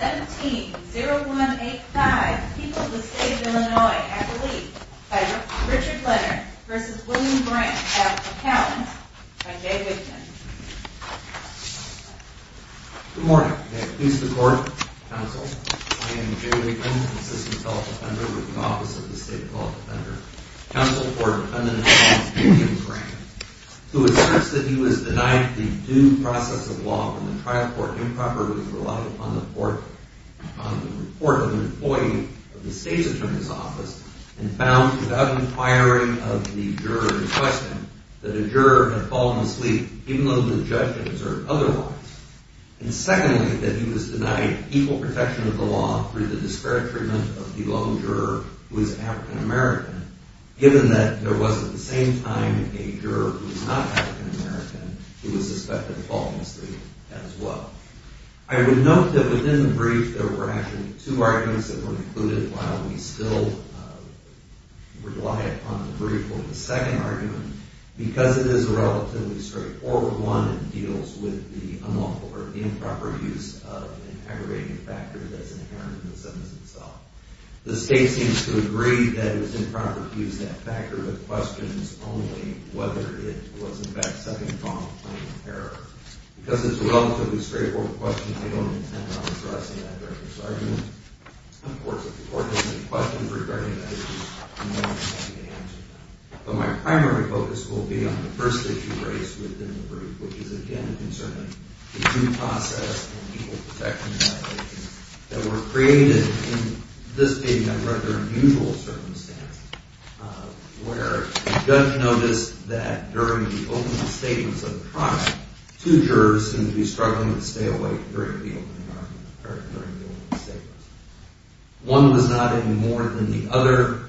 17-0185, People of the State of Illinois, Accolades, by Richard Leonard v. William Grant as accountants, by Jay Wigman. Good morning. May it please the Court, Counsel, I am Jay Wigman, Assistant Court Defender with the Office of the State Court Defender, Counsel for Defendant James Grant, who asserts that he was denied the due process of law when the trial court improperly relied upon the report of an employee of the State's Attorney's Office and found, without inquiring of the juror in question, that a juror had fallen asleep, even though the judge had observed otherwise, and secondly, that he was denied equal protection of the law through the disparate treatment of the lone juror who is African American, given that there was at the same time a juror who was not African American who was suspected of falling asleep as well. I would note that within the brief there were actually two arguments that were included, while we still rely upon the brief for the second argument. Because it is a relatively straightforward one, it deals with the improper use of an aggravating factor that is inherent in the sentence itself. The State seems to agree that it was improper to use that factor with questions only whether it was, in fact, second-pronged claim of error. Because it is a relatively straightforward question, I don't intend on addressing that director's argument. Of course, if the Court has any questions regarding that issue, I am happy to answer them. But my primary focus will be on the first issue raised within the brief, which is, again, concerning the due process and equal protection violations that were created in this being a rather unusual circumstance, where Judge noticed that during the opening statements of the trial, two jurors seemed to be struggling to stay awake during the opening statements. One was nodding more than the other,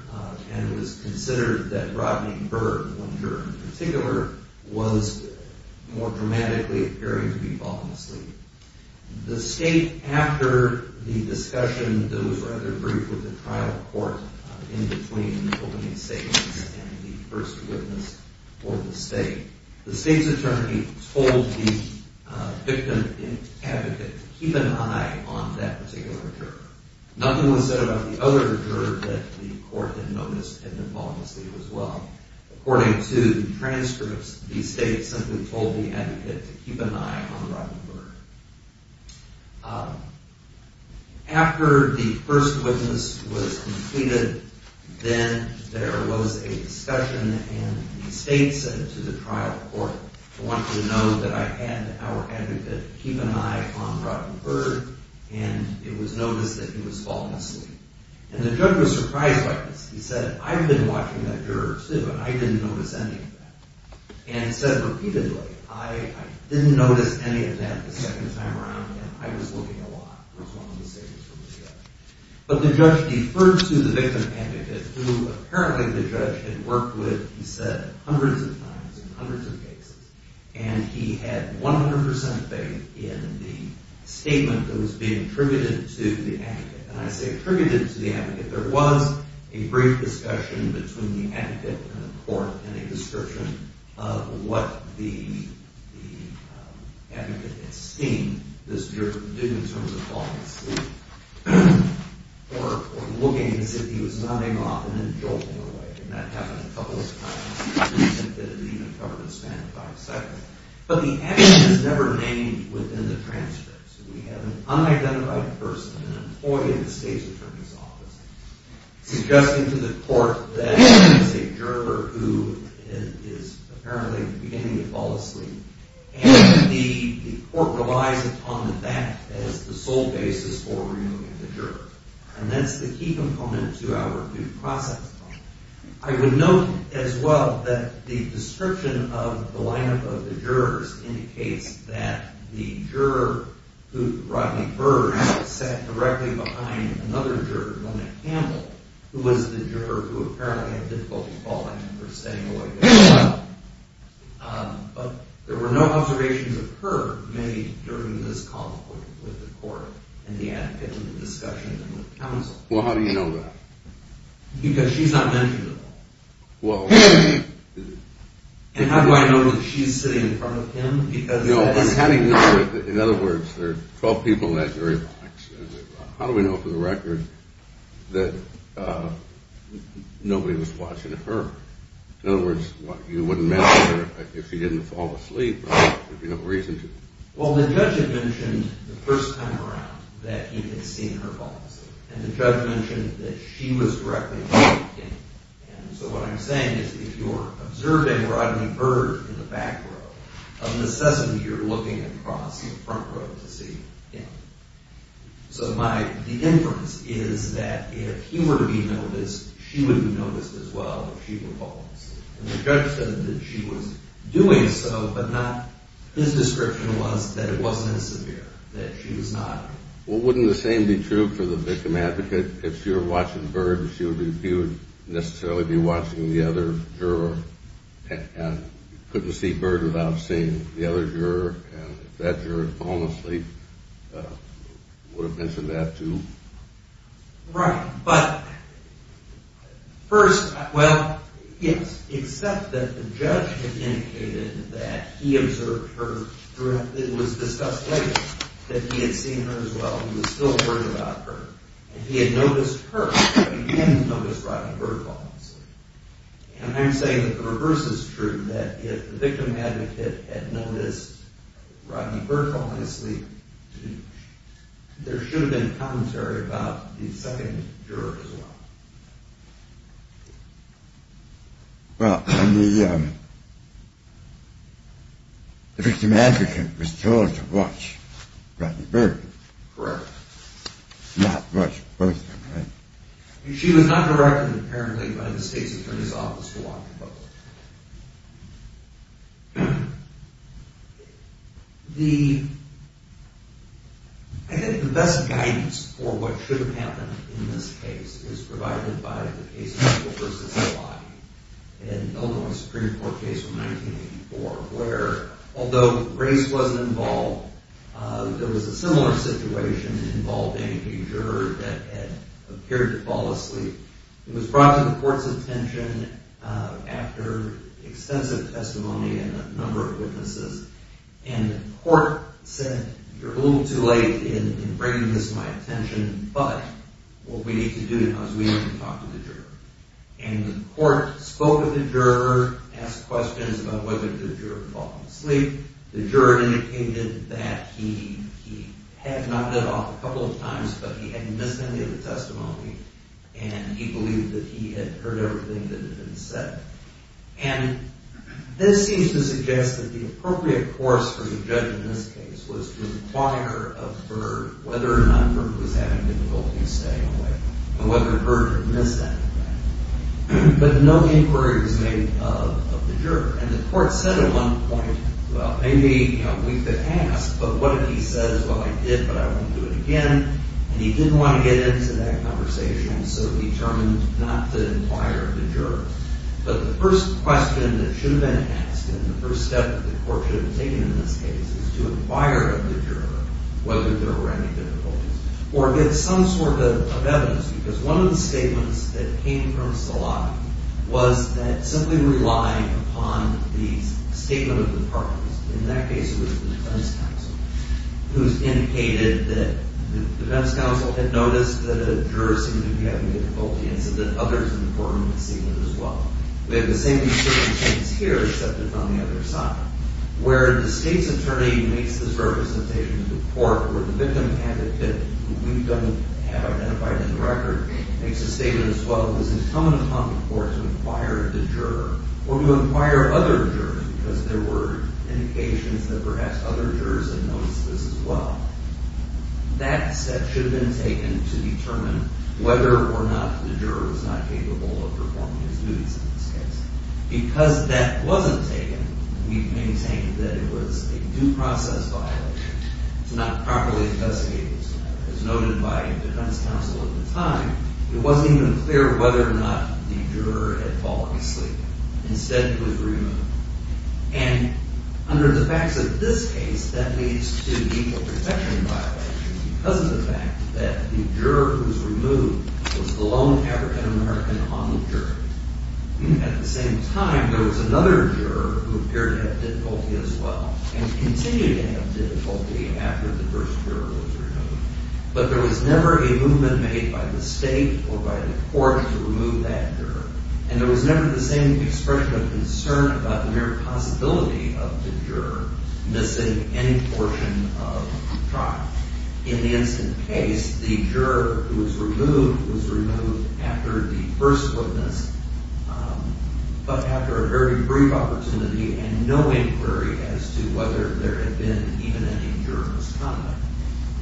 and it was considered that Rodney Byrd, one juror in particular, was more dramatically appearing to be falling asleep. The State, after the discussion that was rather brief with the trial court in between the opening statements and the first witness for the State, the State's attorney told the victim advocate to keep an eye on that particular juror. Nothing was said about the other juror that the Court had noticed had been falling asleep as well. According to the transcripts, the State simply told the advocate to keep an eye on Rodney Byrd. After the first witness was completed, then there was a discussion, and the State said to the trial court, I want you to know that I had our advocate keep an eye on Rodney Byrd, and it was noticed that he was falling asleep. And the judge was surprised by this. He said, I've been watching that juror, too, and I didn't notice any of that. And said repeatedly, I didn't notice any of that the second time around, and I was looking a lot, was one of the statements from the judge. But the judge deferred to the victim advocate, who apparently the judge had worked with, he said, hundreds of times in hundreds of cases, and he had 100% faith in the statement that was being attributed to the advocate. And I say attributed to the advocate. There was a brief discussion between the advocate and the court, and a description of what the advocate had seen this juror did in terms of falling asleep, or looking as if he was nodding off and then jolting away. And that happened a couple of times. It didn't even cover the span of five seconds. But the advocate is never named within the transcripts. We have an unidentified person, an employee of the state's attorney's office, suggesting to the court that it's a juror who is apparently beginning to fall asleep. And the court relies upon that as the sole basis for removing the juror. And that's the key component to our due process. I would note as well that the description of the lineup of the jurors indicates that the juror, Rodney Burge, sat directly behind another juror, Mona Campbell, who was the juror who apparently had difficulty falling asleep. But there were no observations of her made during this conflict with the court and the advocate in the discussion with counsel. Well, how do you know that? Because she's not mentioned at all. And how do I know that she's sitting in front of him? In other words, there are 12 people in that jury box. How do we know for the record that nobody was watching her? In other words, you wouldn't mention her if she didn't fall asleep, if you have no reason to. Well, the judge had mentioned the first time around that he had seen her fall asleep. And the judge mentioned that she was directly in front of him. And so what I'm saying is if you're observing Rodney Burge in the back row, of necessity you're looking across the front row to see him. So the inference is that if he were to be noticed, she would be noticed as well if she were false. And the judge said that she was doing so, but his description was that it wasn't severe, that she was not. Well, wouldn't the same be true for the victim advocate? If she were watching Burge, she wouldn't necessarily be watching the other juror. And you couldn't see Burge without seeing the other juror. And if that juror had fallen asleep, you would have mentioned that too. Right, but first, well, except that the judge had indicated that he observed her and it was discussed later that he had seen her as well, he was still worried about her. And he had noticed her, but he hadn't noticed Rodney Burge falling asleep. And I'm saying that the reverse is true, that if the victim advocate had noticed Rodney Burge falling asleep, there should have been commentary about the second juror as well. Well, the victim advocate was told to watch Rodney Burge. Correct. Not watch both of them, right? She was not directed, apparently, by the state's attorney's office to watch both of them. The, I think the best guidance for what should have happened in this case is provided by the case of Mitchell v. Eladi, an Illinois Supreme Court case from 1984, where, although Grace wasn't involved, there was a similar situation involving a juror that had appeared to fall asleep. It was brought to the court's attention after extensive testimony and a number of witnesses. And the court said, you're a little too late in bringing this to my attention, but what we need to do now is we need to talk to the juror. And the court spoke with the juror, asked questions about whether the juror had fallen asleep. The juror indicated that he had knocked it off a couple of times, but he hadn't missed any of the testimony. And he believed that he had heard everything that had been said. And this seems to suggest that the appropriate course for the judge in this case was to inquire of Burge whether or not Burge was having difficulty staying awake and whether Burge had missed that. But no inquiry was made of the juror. And the court said at one point, well, maybe, you know, we could ask, but what if he says, well, I did, but I won't do it again. And he didn't want to get into that conversation, so he determined not to inquire of the juror. But the first question that should have been asked and the first step that the court should have taken in this case is to inquire of the juror whether there were any difficulties or get some sort of evidence, because one of the statements that came from Solano was that simply relying upon the statement of the parties, in that case it was the defense counsel, who indicated that the defense counsel had noticed that a juror seemed to be having difficulty and said that others in the courtroom had seen it as well. We have the same concerns here, except it's on the other side, where the state's attorney makes this representation to the court where the victim advocate, who we don't have identified in the record, makes a statement as well as incumbent upon the court to inquire of the juror or to inquire of other jurors because there were indications that perhaps other jurors had noticed this as well. That step should have been taken to determine whether or not the juror was not capable of performing his duties in this case. Because that wasn't taken, we maintain that it was a due process violation. It's not properly investigated. As noted by the defense counsel at the time, it wasn't even clear whether or not the juror had fallen asleep. Instead, he was removed. And under the facts of this case, that leads to legal protection violations because of the fact that the juror who was removed was the lone African-American on the jury. At the same time, there was another juror who appeared to have difficulty as well and continued to have difficulty after the first juror was removed. But there was never a movement made by the state or by the court to remove that juror. And there was never the same expression of concern about the mere possibility of the juror missing any portion of the trial. In the instant case, the juror who was removed was removed after the first witness, but after a very brief opportunity and no inquiry as to whether there had been even any juror misconduct.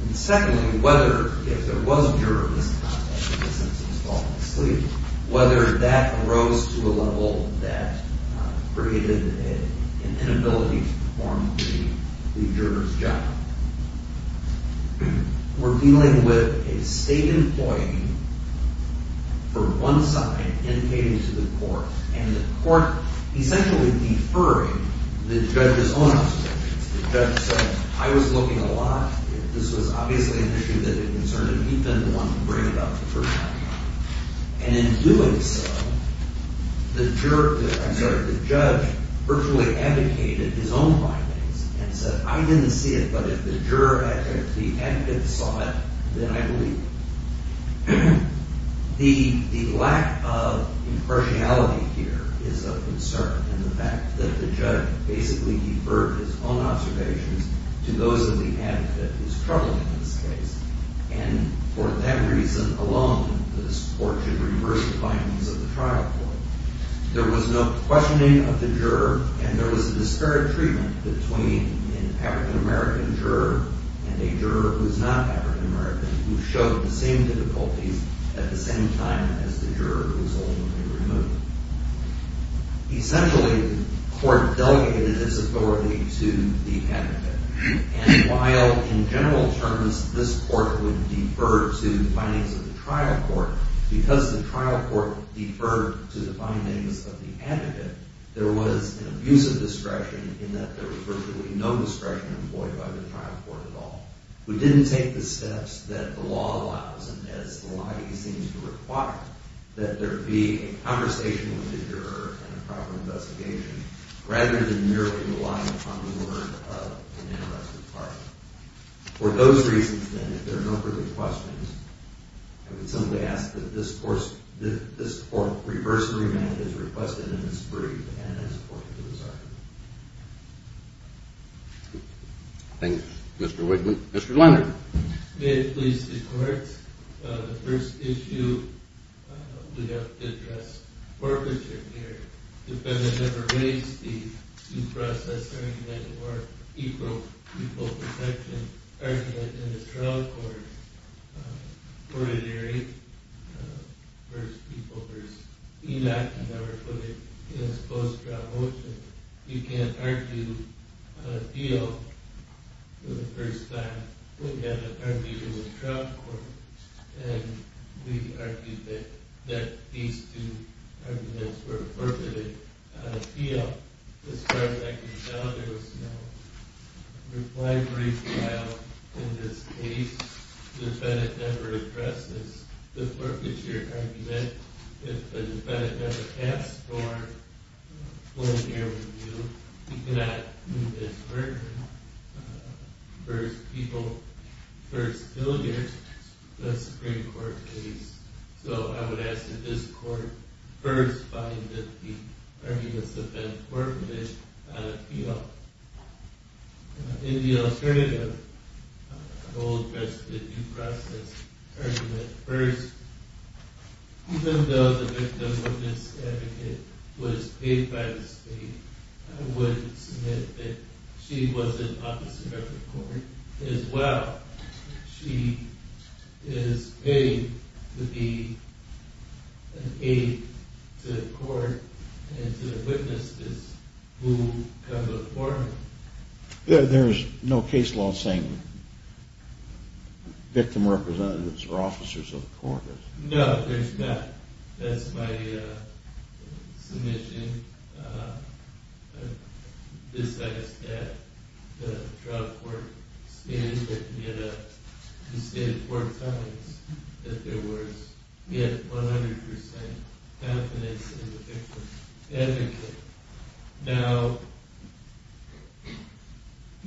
And secondly, whether if there was a juror misconduct in the sense of falling asleep, whether that arose to a level that created an inability to perform the juror's job. We're dealing with a state employee for one side indicating to the court, and the court essentially deferring the judge's own observations. The judge said, I was looking a lot. This was obviously an issue that had concerned him. He'd been the one to bring it up the first time. And in doing so, the judge virtually abdicated his own findings and said, I didn't see it, but if the juror, if the advocate saw it, then I believe it. The lack of impartiality here is of concern in the fact that the judge basically deferred his own observations to those of the advocate who's troubled in this case. And for that reason alone, the court should reverse the findings of the trial court. There was no questioning of the juror, and there was a disparate treatment between an African-American juror and a juror who is not African-American who showed the same difficulties at the same time as the juror who was ultimately removed. Essentially, the court delegated its authority to the advocate. And while in general terms, this court would defer to the findings of the trial court, because the trial court deferred to the findings of the advocate, there was an abuse of discretion in that there was virtually no discretion employed by the trial court at all. We didn't take the steps that the law allows, and as the law seems to require, that there be a conversation with the juror and a proper investigation, rather than merely relying on the word of an interested party. For those reasons, then, if there are no further questions, I would simply ask that this court reverse the remand as requested in its brief and as apported to this argument. Thank you, Mr. Wigman. Mr. Leonard. May it please the Court, the first issue we have to address, is the arbitration here. The defendant never raised the due process argument for equal protection argument in the trial court. Ordinarily, first people versus enacted never put it in a supposed trial motion. You can't argue a deal for the first time. We had an argument in the trial court, and we argued that these two arguments were perpetrated. I feel, as far as I can tell, there was no reply brief trial in this case. The defendant never addressed this. The perpetrator argument, if the defendant never asked for a preliminary review, he cannot move this verdict. First people, first billiards, that's the Supreme Court case. So I would ask that this court first find that the arguments have been permitted on appeal. In the alternative, I will address the due process argument first. Even though the victim of this advocate was paid by the state, I would submit that she was an officer of the court as well. She is paid to be an aide to the court and to witness this who comes before me. There is no case law saying victim representatives are officers of the court. No, there's not. That's my submission besides that the trial court stated four times that there was 100% confidence in the victim's advocate. Now,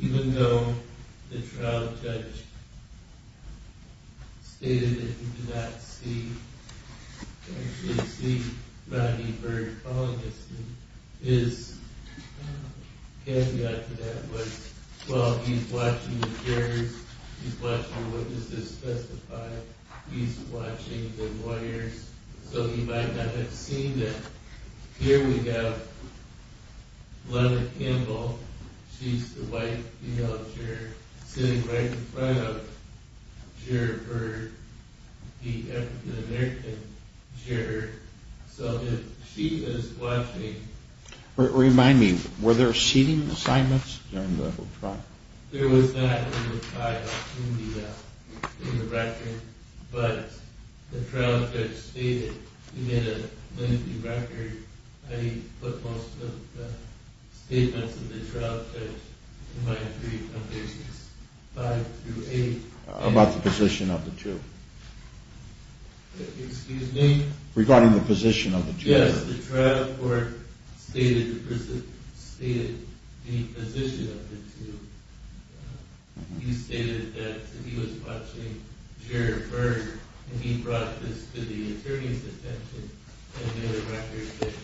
even though the trial judge stated that he did not see Rodney Byrd calling this thing, his caveat to that was, well, he's watching the jurors, he's watching witnesses testify, he's watching the lawyers, so he might not have seen it. Here we have Glenna Campbell, she's the white female juror, sitting right in front of Jared Byrd, the African-American juror, so if she is watching... Remind me, were there seating assignments during the trial? There was not in the record, but the trial judge stated in a lengthy record, I put most of the statements of the trial judge in my brief on pages 5 through 8. About the position of the two? Excuse me? Regarding the position of the two. Yes, the trial court stated the position of the two. He stated that he was watching Jared Byrd and he brought this to the attorney's attention and made a record that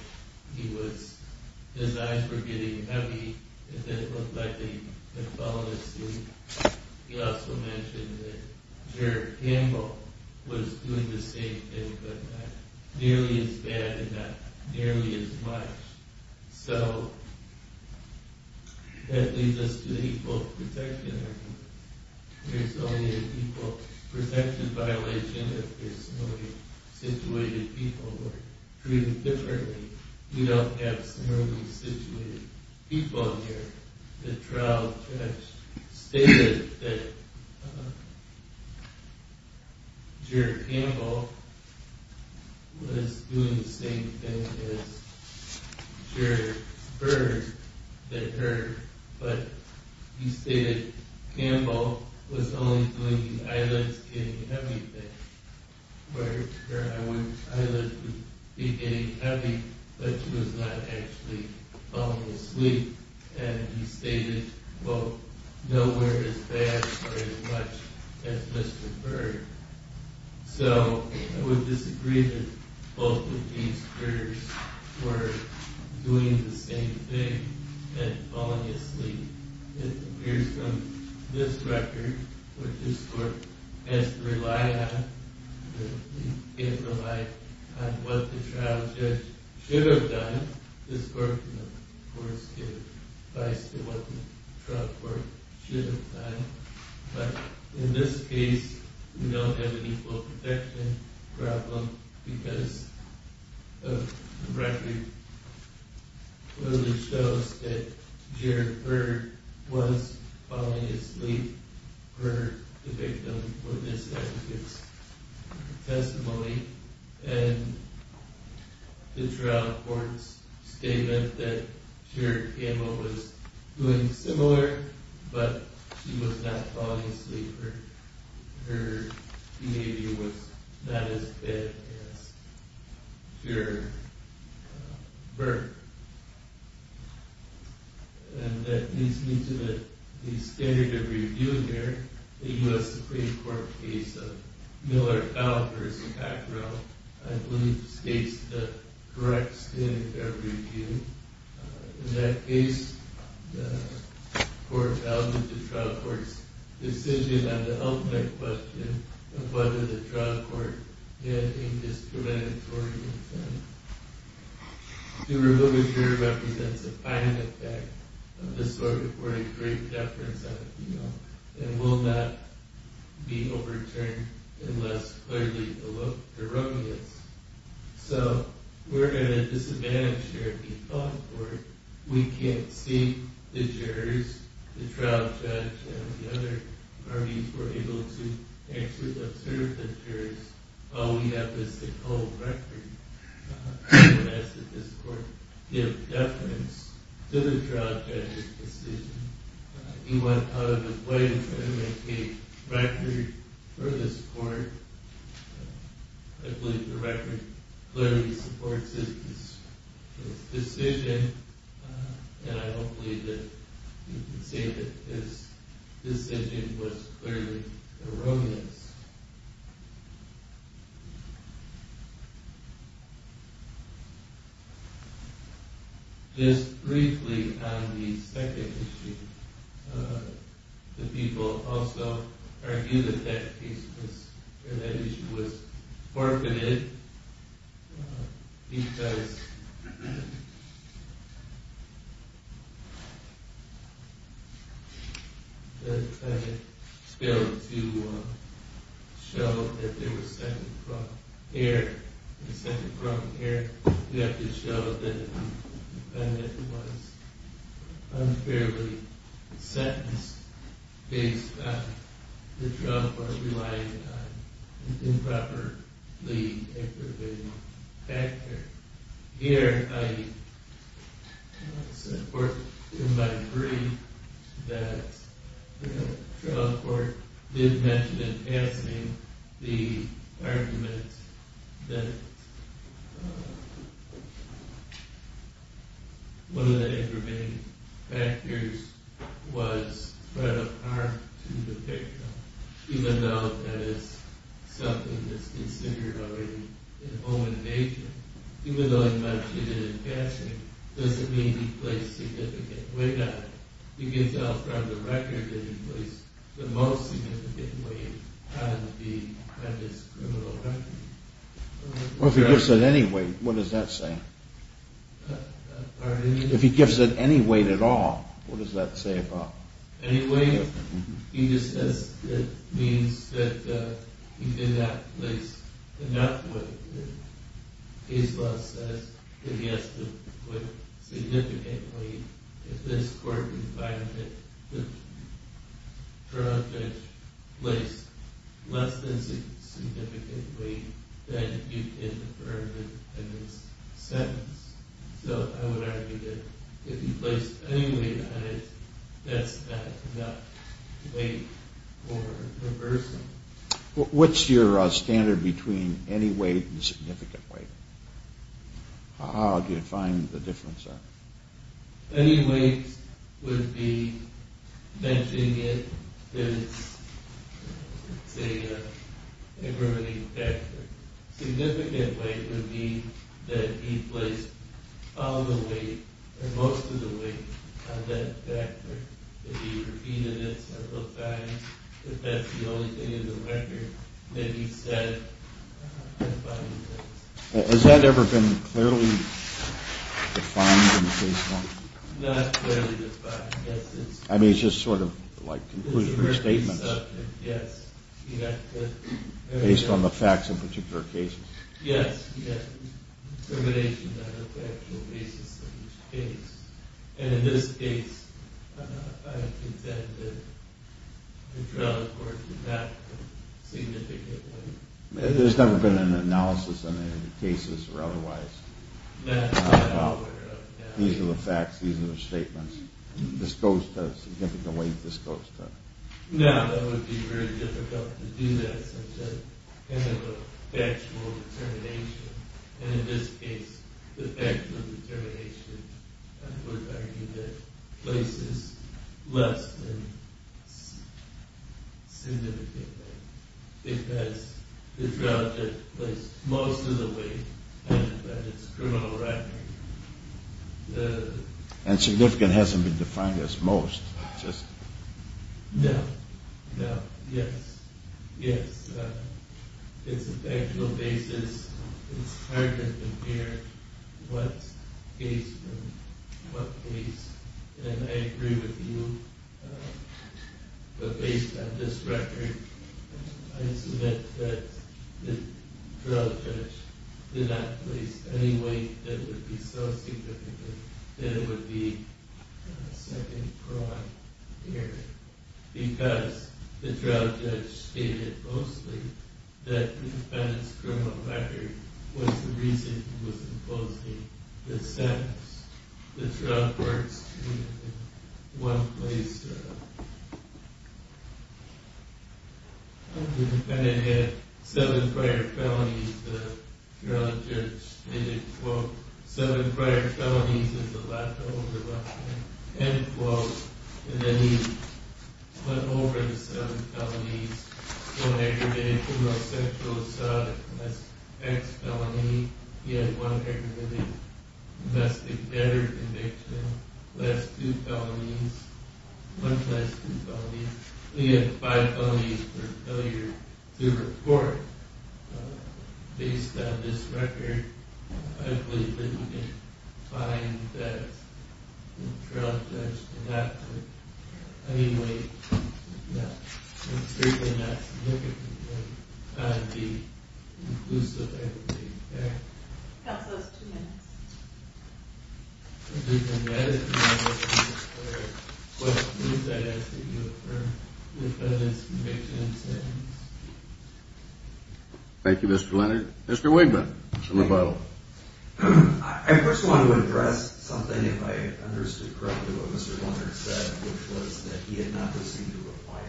his eyes were getting heavy and that it looked like they had fallen asleep. He also mentioned that Jared Campbell was doing the same thing, but not nearly as bad and not nearly as much. So, that leads us to the equal protection argument. There's only an equal protection violation if there's similarly situated people who are treated differently. We don't have similarly situated people here. The trial judge stated that Jared Campbell was doing the same thing as Jared Byrd, but he stated that Campbell was only doing the eyelids getting heavy thing. Where her eyelids would be getting heavy, but she was not actually falling asleep. And he stated, well, nowhere as bad or as much as Mr. Byrd. So, I would disagree that both of these jurors were doing the same thing and falling asleep. It appears from this record that this court has to rely on what the trial judge should have done. This court can, of course, give advice to what the trial court should have done. But in this case, we don't have an equal protection problem because the record clearly shows that Jared Byrd was falling asleep. Byrd, the victim, witnessed that in his testimony. And the trial court's statement that Jared Campbell was doing similar, but she was not falling asleep. And that leads me to the standard of review here. The U.S. Supreme Court case of Miller-Allen v. Packrell, I believe, states the correct standard of review. In that case, the court founded the trial court's decision on the ultimate question of whether the trial court had a discriminatory incentive. The review here represents a final effect of this court reporting great deference on the female and will not be overturned unless clearly the law erroneous. So we're at a disadvantage here if you thought for it. We can't see the jurors, the trial judge, and the other parties were able to actually observe the jurors. All we have is the cold record. And as did this court give deference to the trial judge's decision. He went out of his way to try to make a record for this court. I believe the record clearly supports his decision. And I don't believe that you can say that his decision was clearly erroneous. Just briefly on the second issue, the people also argued that that issue was forfeited because the defendant failed to show that there was second-front care. In second-front care, you have to show that the defendant was unfairly sentenced based on the trial court relying on improperly aggravating factors. Here, I support in my brief that the trial court did mention in passing the argument that one of the aggravating factors was threat of harm to the victim, even though that is something that's considered already a home invasion. Even though he mentioned it in passing, does it mean he placed significant weight on it? You can tell from the record that he placed the most significant weight on this criminal record. Well, if he gives it any weight, what does that say? If he gives it any weight at all, what does that say about it? If he gives it any weight, he just says it means that he did not place enough weight on it. Case law says that he has to put significant weight. If this court finds that the charge is placed less than significant weight, then you can defer the sentence. So I would argue that if he placed any weight on it, that's not weight or reversal. What's your standard between any weight and significant weight? How do you define the difference there? Any weight would be mentioning it as an aggravating factor. Significant weight would mean that he placed all the weight or most of the weight on that factor. If he repeated it, simplified it, if that's the only thing in the record, then he said the following things. Has that ever been clearly defined in case law? Not clearly defined, yes. I mean, it's just sort of like conclusionary statements. Based on the facts of a particular case? Yes, yes. Determination on the factual basis of each case. And in this case, I contend that the drug was not significant weight. There's never been an analysis on any of the cases or otherwise? No. These are the facts, these are the statements. This goes to significant weight, this goes to... No, that would be very difficult to do that, such as kind of a factual determination. And in this case, the factual determination, I would argue, that places less than significant weight. Because the drug that placed most of the weight has a criminal record. And significant hasn't been defined as most? No. No. Yes. Yes. It's a factual basis. It's hard to compare what's based on what case. And I agree with you. But based on this record, I submit that the drug judge did not place any weight that would be so significant that it would be a second crime here. Because the drug judge stated mostly that the defendant's criminal record was the reason he was imposing the sentence. The drug works in one place. The defendant had seven prior felonies. The drug judge stated, quote, seven prior felonies is a lot to overlook. End quote. And then he went over the seven felonies. One aggravated criminal sexual assault. That's X felony. He had one aggravated domestic debtor conviction. That's two felonies. One plus two felonies. He had five felonies for failure to report. Based on this record, I believe that you can find that the drug judge did not put any weight. Yeah. It's certainly not significant. But it would be inclusive, I would take that. How's those two minutes? If you can edit them out, Mr. McClure. But please, I ask that you affirm the defendant's conviction and sentence. Thank you, Mr. Leonard. Mr. Wigman from the Bible. I first want to address something, if I understood correctly, what Mr. Leonard said, which was that he had not received a reply.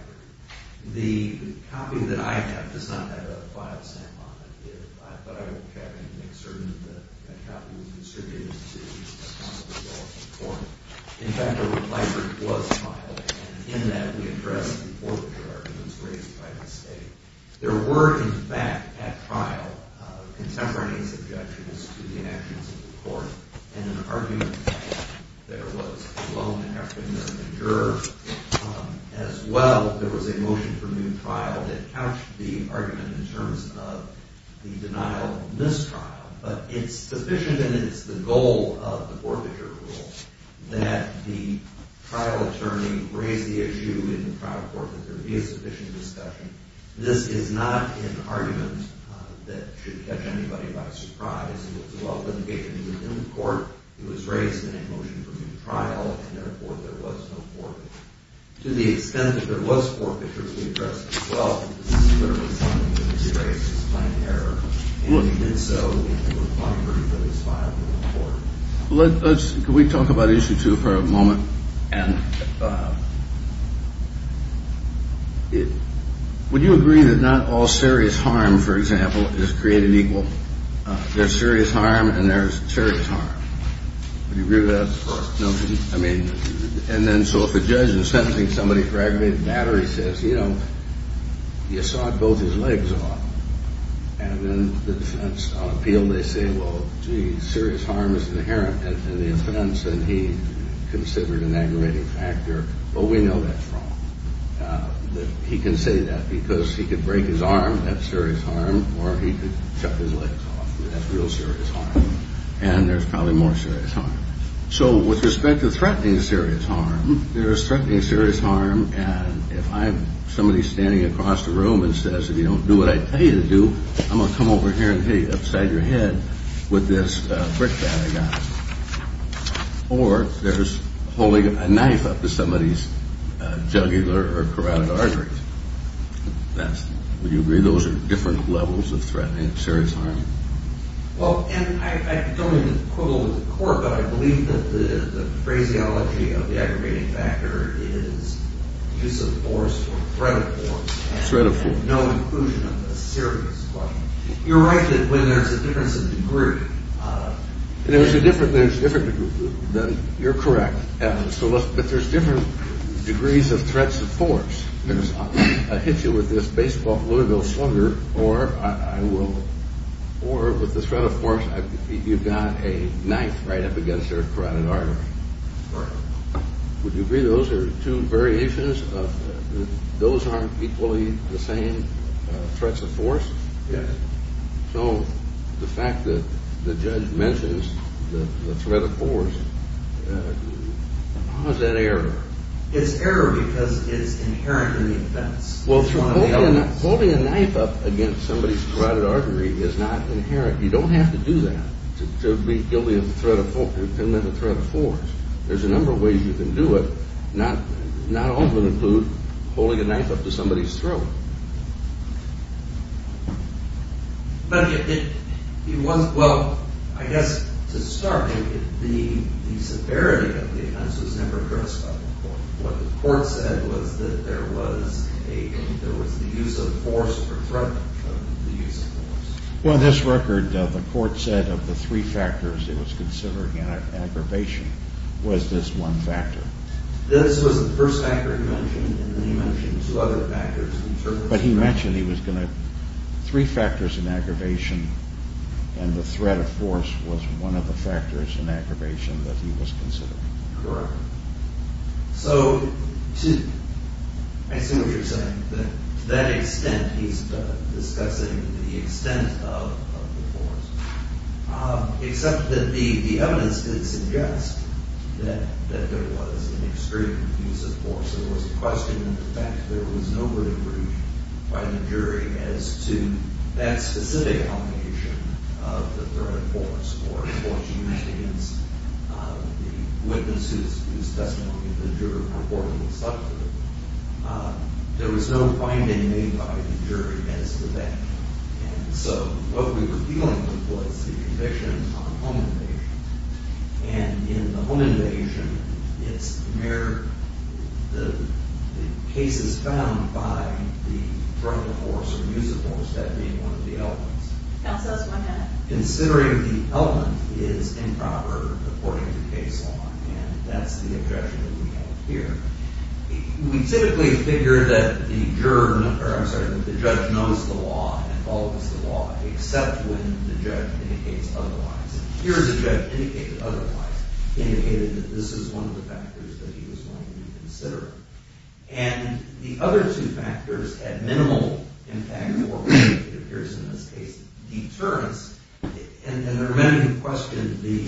The copy that I have does not have a file stamp on it. I thought I would have to make certain that that copy was distributed to counsel in court. In fact, a reply was filed. And in that, we addressed the forfeiture arguments raised by the state. There were, in fact, at trial, contemporaneous objections to the actions of the court. In an argument there was a lone African-American juror. As well, there was a motion for new trial that couched the argument in terms of the denial of this trial. But it's sufficient, and it's the goal of the forfeiture rule, that the trial attorney raise the issue in the trial court that there be a sufficient discussion. This is not an argument that should catch anybody by surprise. It was well litigated within the court. It was raised in a motion for new trial. And, therefore, there was no forfeiture. To the extent that there was forfeiture to be addressed as well, this is literally something that was erased as plain error. And we did so in a reply written for this file in the court. Let's – can we talk about issue two for a moment? And would you agree that not all serious harm, for example, is created equal? There's serious harm, and there's serious harm. Would you agree with that? No. I mean, and then so if a judge is sentencing somebody for aggravated battery, he says, you know, you sawed both his legs off. And then the defense on appeal, they say, well, gee, serious harm is inherent in the offense, and he considered an aggravating factor. Well, we know that's wrong. He can say that because he could break his arm, that's serious harm, or he could cut his legs off. That's real serious harm. And there's probably more serious harm. So with respect to threatening serious harm, there is threatening serious harm. And if I'm somebody standing across the room and says, if you don't do what I tell you to do, I'm going to come over here and hit you upside your head with this brick that I got. Or there's holding a knife up to somebody's jugular or carotid arteries. Would you agree those are different levels of threatening serious harm? Well, and I don't mean to quibble with the court, but I believe that the phraseology of the aggravating factor is use of force or threat of force. Threat of force. And no inclusion of the serious harm. You're right that when there's a difference of degree. There's a different degree. You're correct. But there's different degrees of threats of force. If I hit you with this baseball Louisville slugger, or with the threat of force, you've got a knife right up against your carotid artery. Would you agree those are two variations? Those aren't equally the same threats of force? Yes. So the fact that the judge mentions the threat of force, how is that error? It's error because it's inherent in the offense. Well, holding a knife up against somebody's carotid artery is not inherent. You don't have to do that to be guilty of the threat of force. There's a number of ways you can do it. Not all of them include holding a knife up to somebody's throat. Well, I guess to start, the severity of the offense was never addressed by the court. What the court said was that there was the use of force for threat of the use of force. Well, in this record, the court said of the three factors it was considering an aggravation was this one factor. This was the first factor he mentioned, and then he mentioned two other factors. But he mentioned three factors in aggravation, and the threat of force was one of the factors in aggravation that he was considering. Correct. So I see what you're saying, that to that extent he's discussing the extent of the force, except that the evidence did suggest that there was an extreme use of force. There was a question of the fact there was no verdict reached by the jury as to that specific obligation of the threat of force or the force used against the witness whose testimony the juror purportedly substituted. There was no finding made by the jury as to that. And so what we were dealing with was the conviction on home invasion. And in the home invasion, the case is found by the threat of force or use of force, that being one of the elements. That says one thing. Considering the element is improper according to case law, and that's the objection that we have here. We typically figure that the judge knows the law and follows the law, except when the judge indicates otherwise. And here the judge indicated otherwise, indicated that this is one of the factors that he was going to be considering. And the other two factors had minimal impact or, as it appears in this case, deterrence. And there are many who question the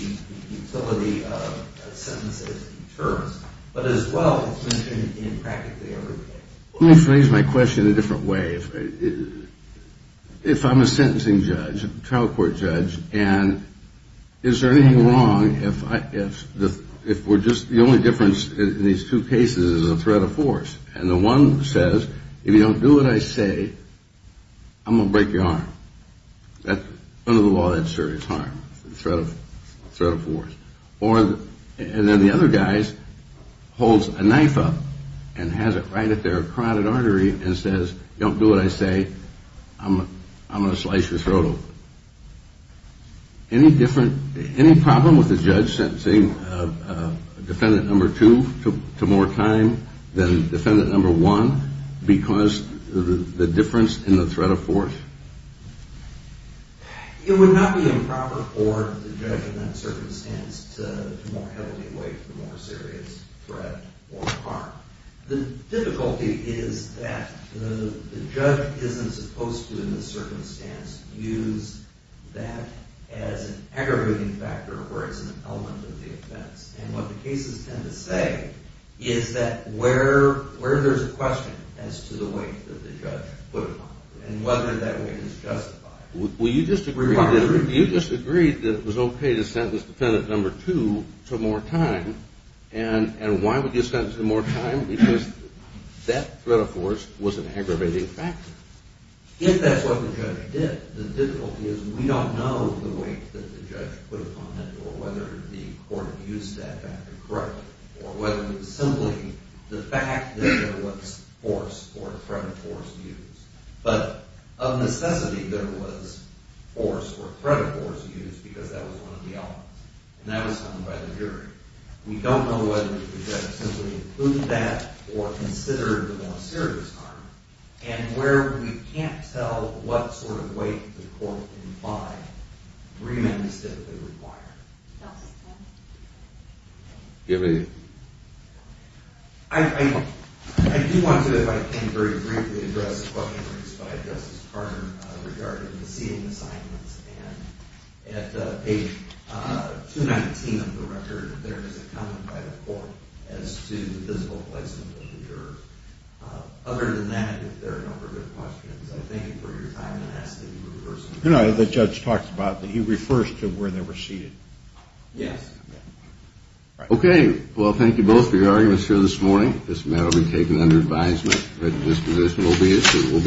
utility of sentences as deterrence, but as well, it's mentioned in practically every case. Let me phrase my question a different way. If I'm a sentencing judge, a trial court judge, and is there anything wrong if we're just – in these two cases, there's a threat of force. And the one says, if you don't do what I say, I'm going to break your arm. Under the law, that's serious harm, threat of force. And then the other guy holds a knife up and has it right at their carotid artery and says, don't do what I say, I'm going to slice your throat open. Any different – any problem with the judge sentencing defendant number two to more time than defendant number one because the difference in the threat of force? It would not be improper for the judge in that circumstance to more heavily weight the more serious threat or harm. The difficulty is that the judge isn't supposed to, in this circumstance, use that as an aggravating factor or as an element of the offense. And what the cases tend to say is that where there's a question as to the weight that the judge put upon it and whether that weight is justified. You just agreed that it was okay to sentence defendant number two to more time, and why would you sentence him more time? Because that threat of force was an aggravating factor. If that's what the judge did, the difficulty is we don't know the weight that the judge put upon it or whether the court used that factor correctly or whether it was simply the fact that there was force or threat of force used. But of necessity, there was force or threat of force used because that was one of the elements, and that was found by the jury. We don't know whether the judge simply included that or considered the more serious harm. And where we can't tell what sort of weight the court can buy, remand is typically required. I do want to, if I can, very briefly address a question raised by Justice Carter regarding the seating assignments. And at page 219 of the record, there is a comment by the court as to the physical placement of the juror. Other than that, if there are no further questions, I thank you for your time and ask that you reverse the question. You know, the judge talks about that he refers to where they were seated. Yes. Okay. Well, thank you both for your arguments here this morning. This matter will be taken under advisement. A written disposition will be issued.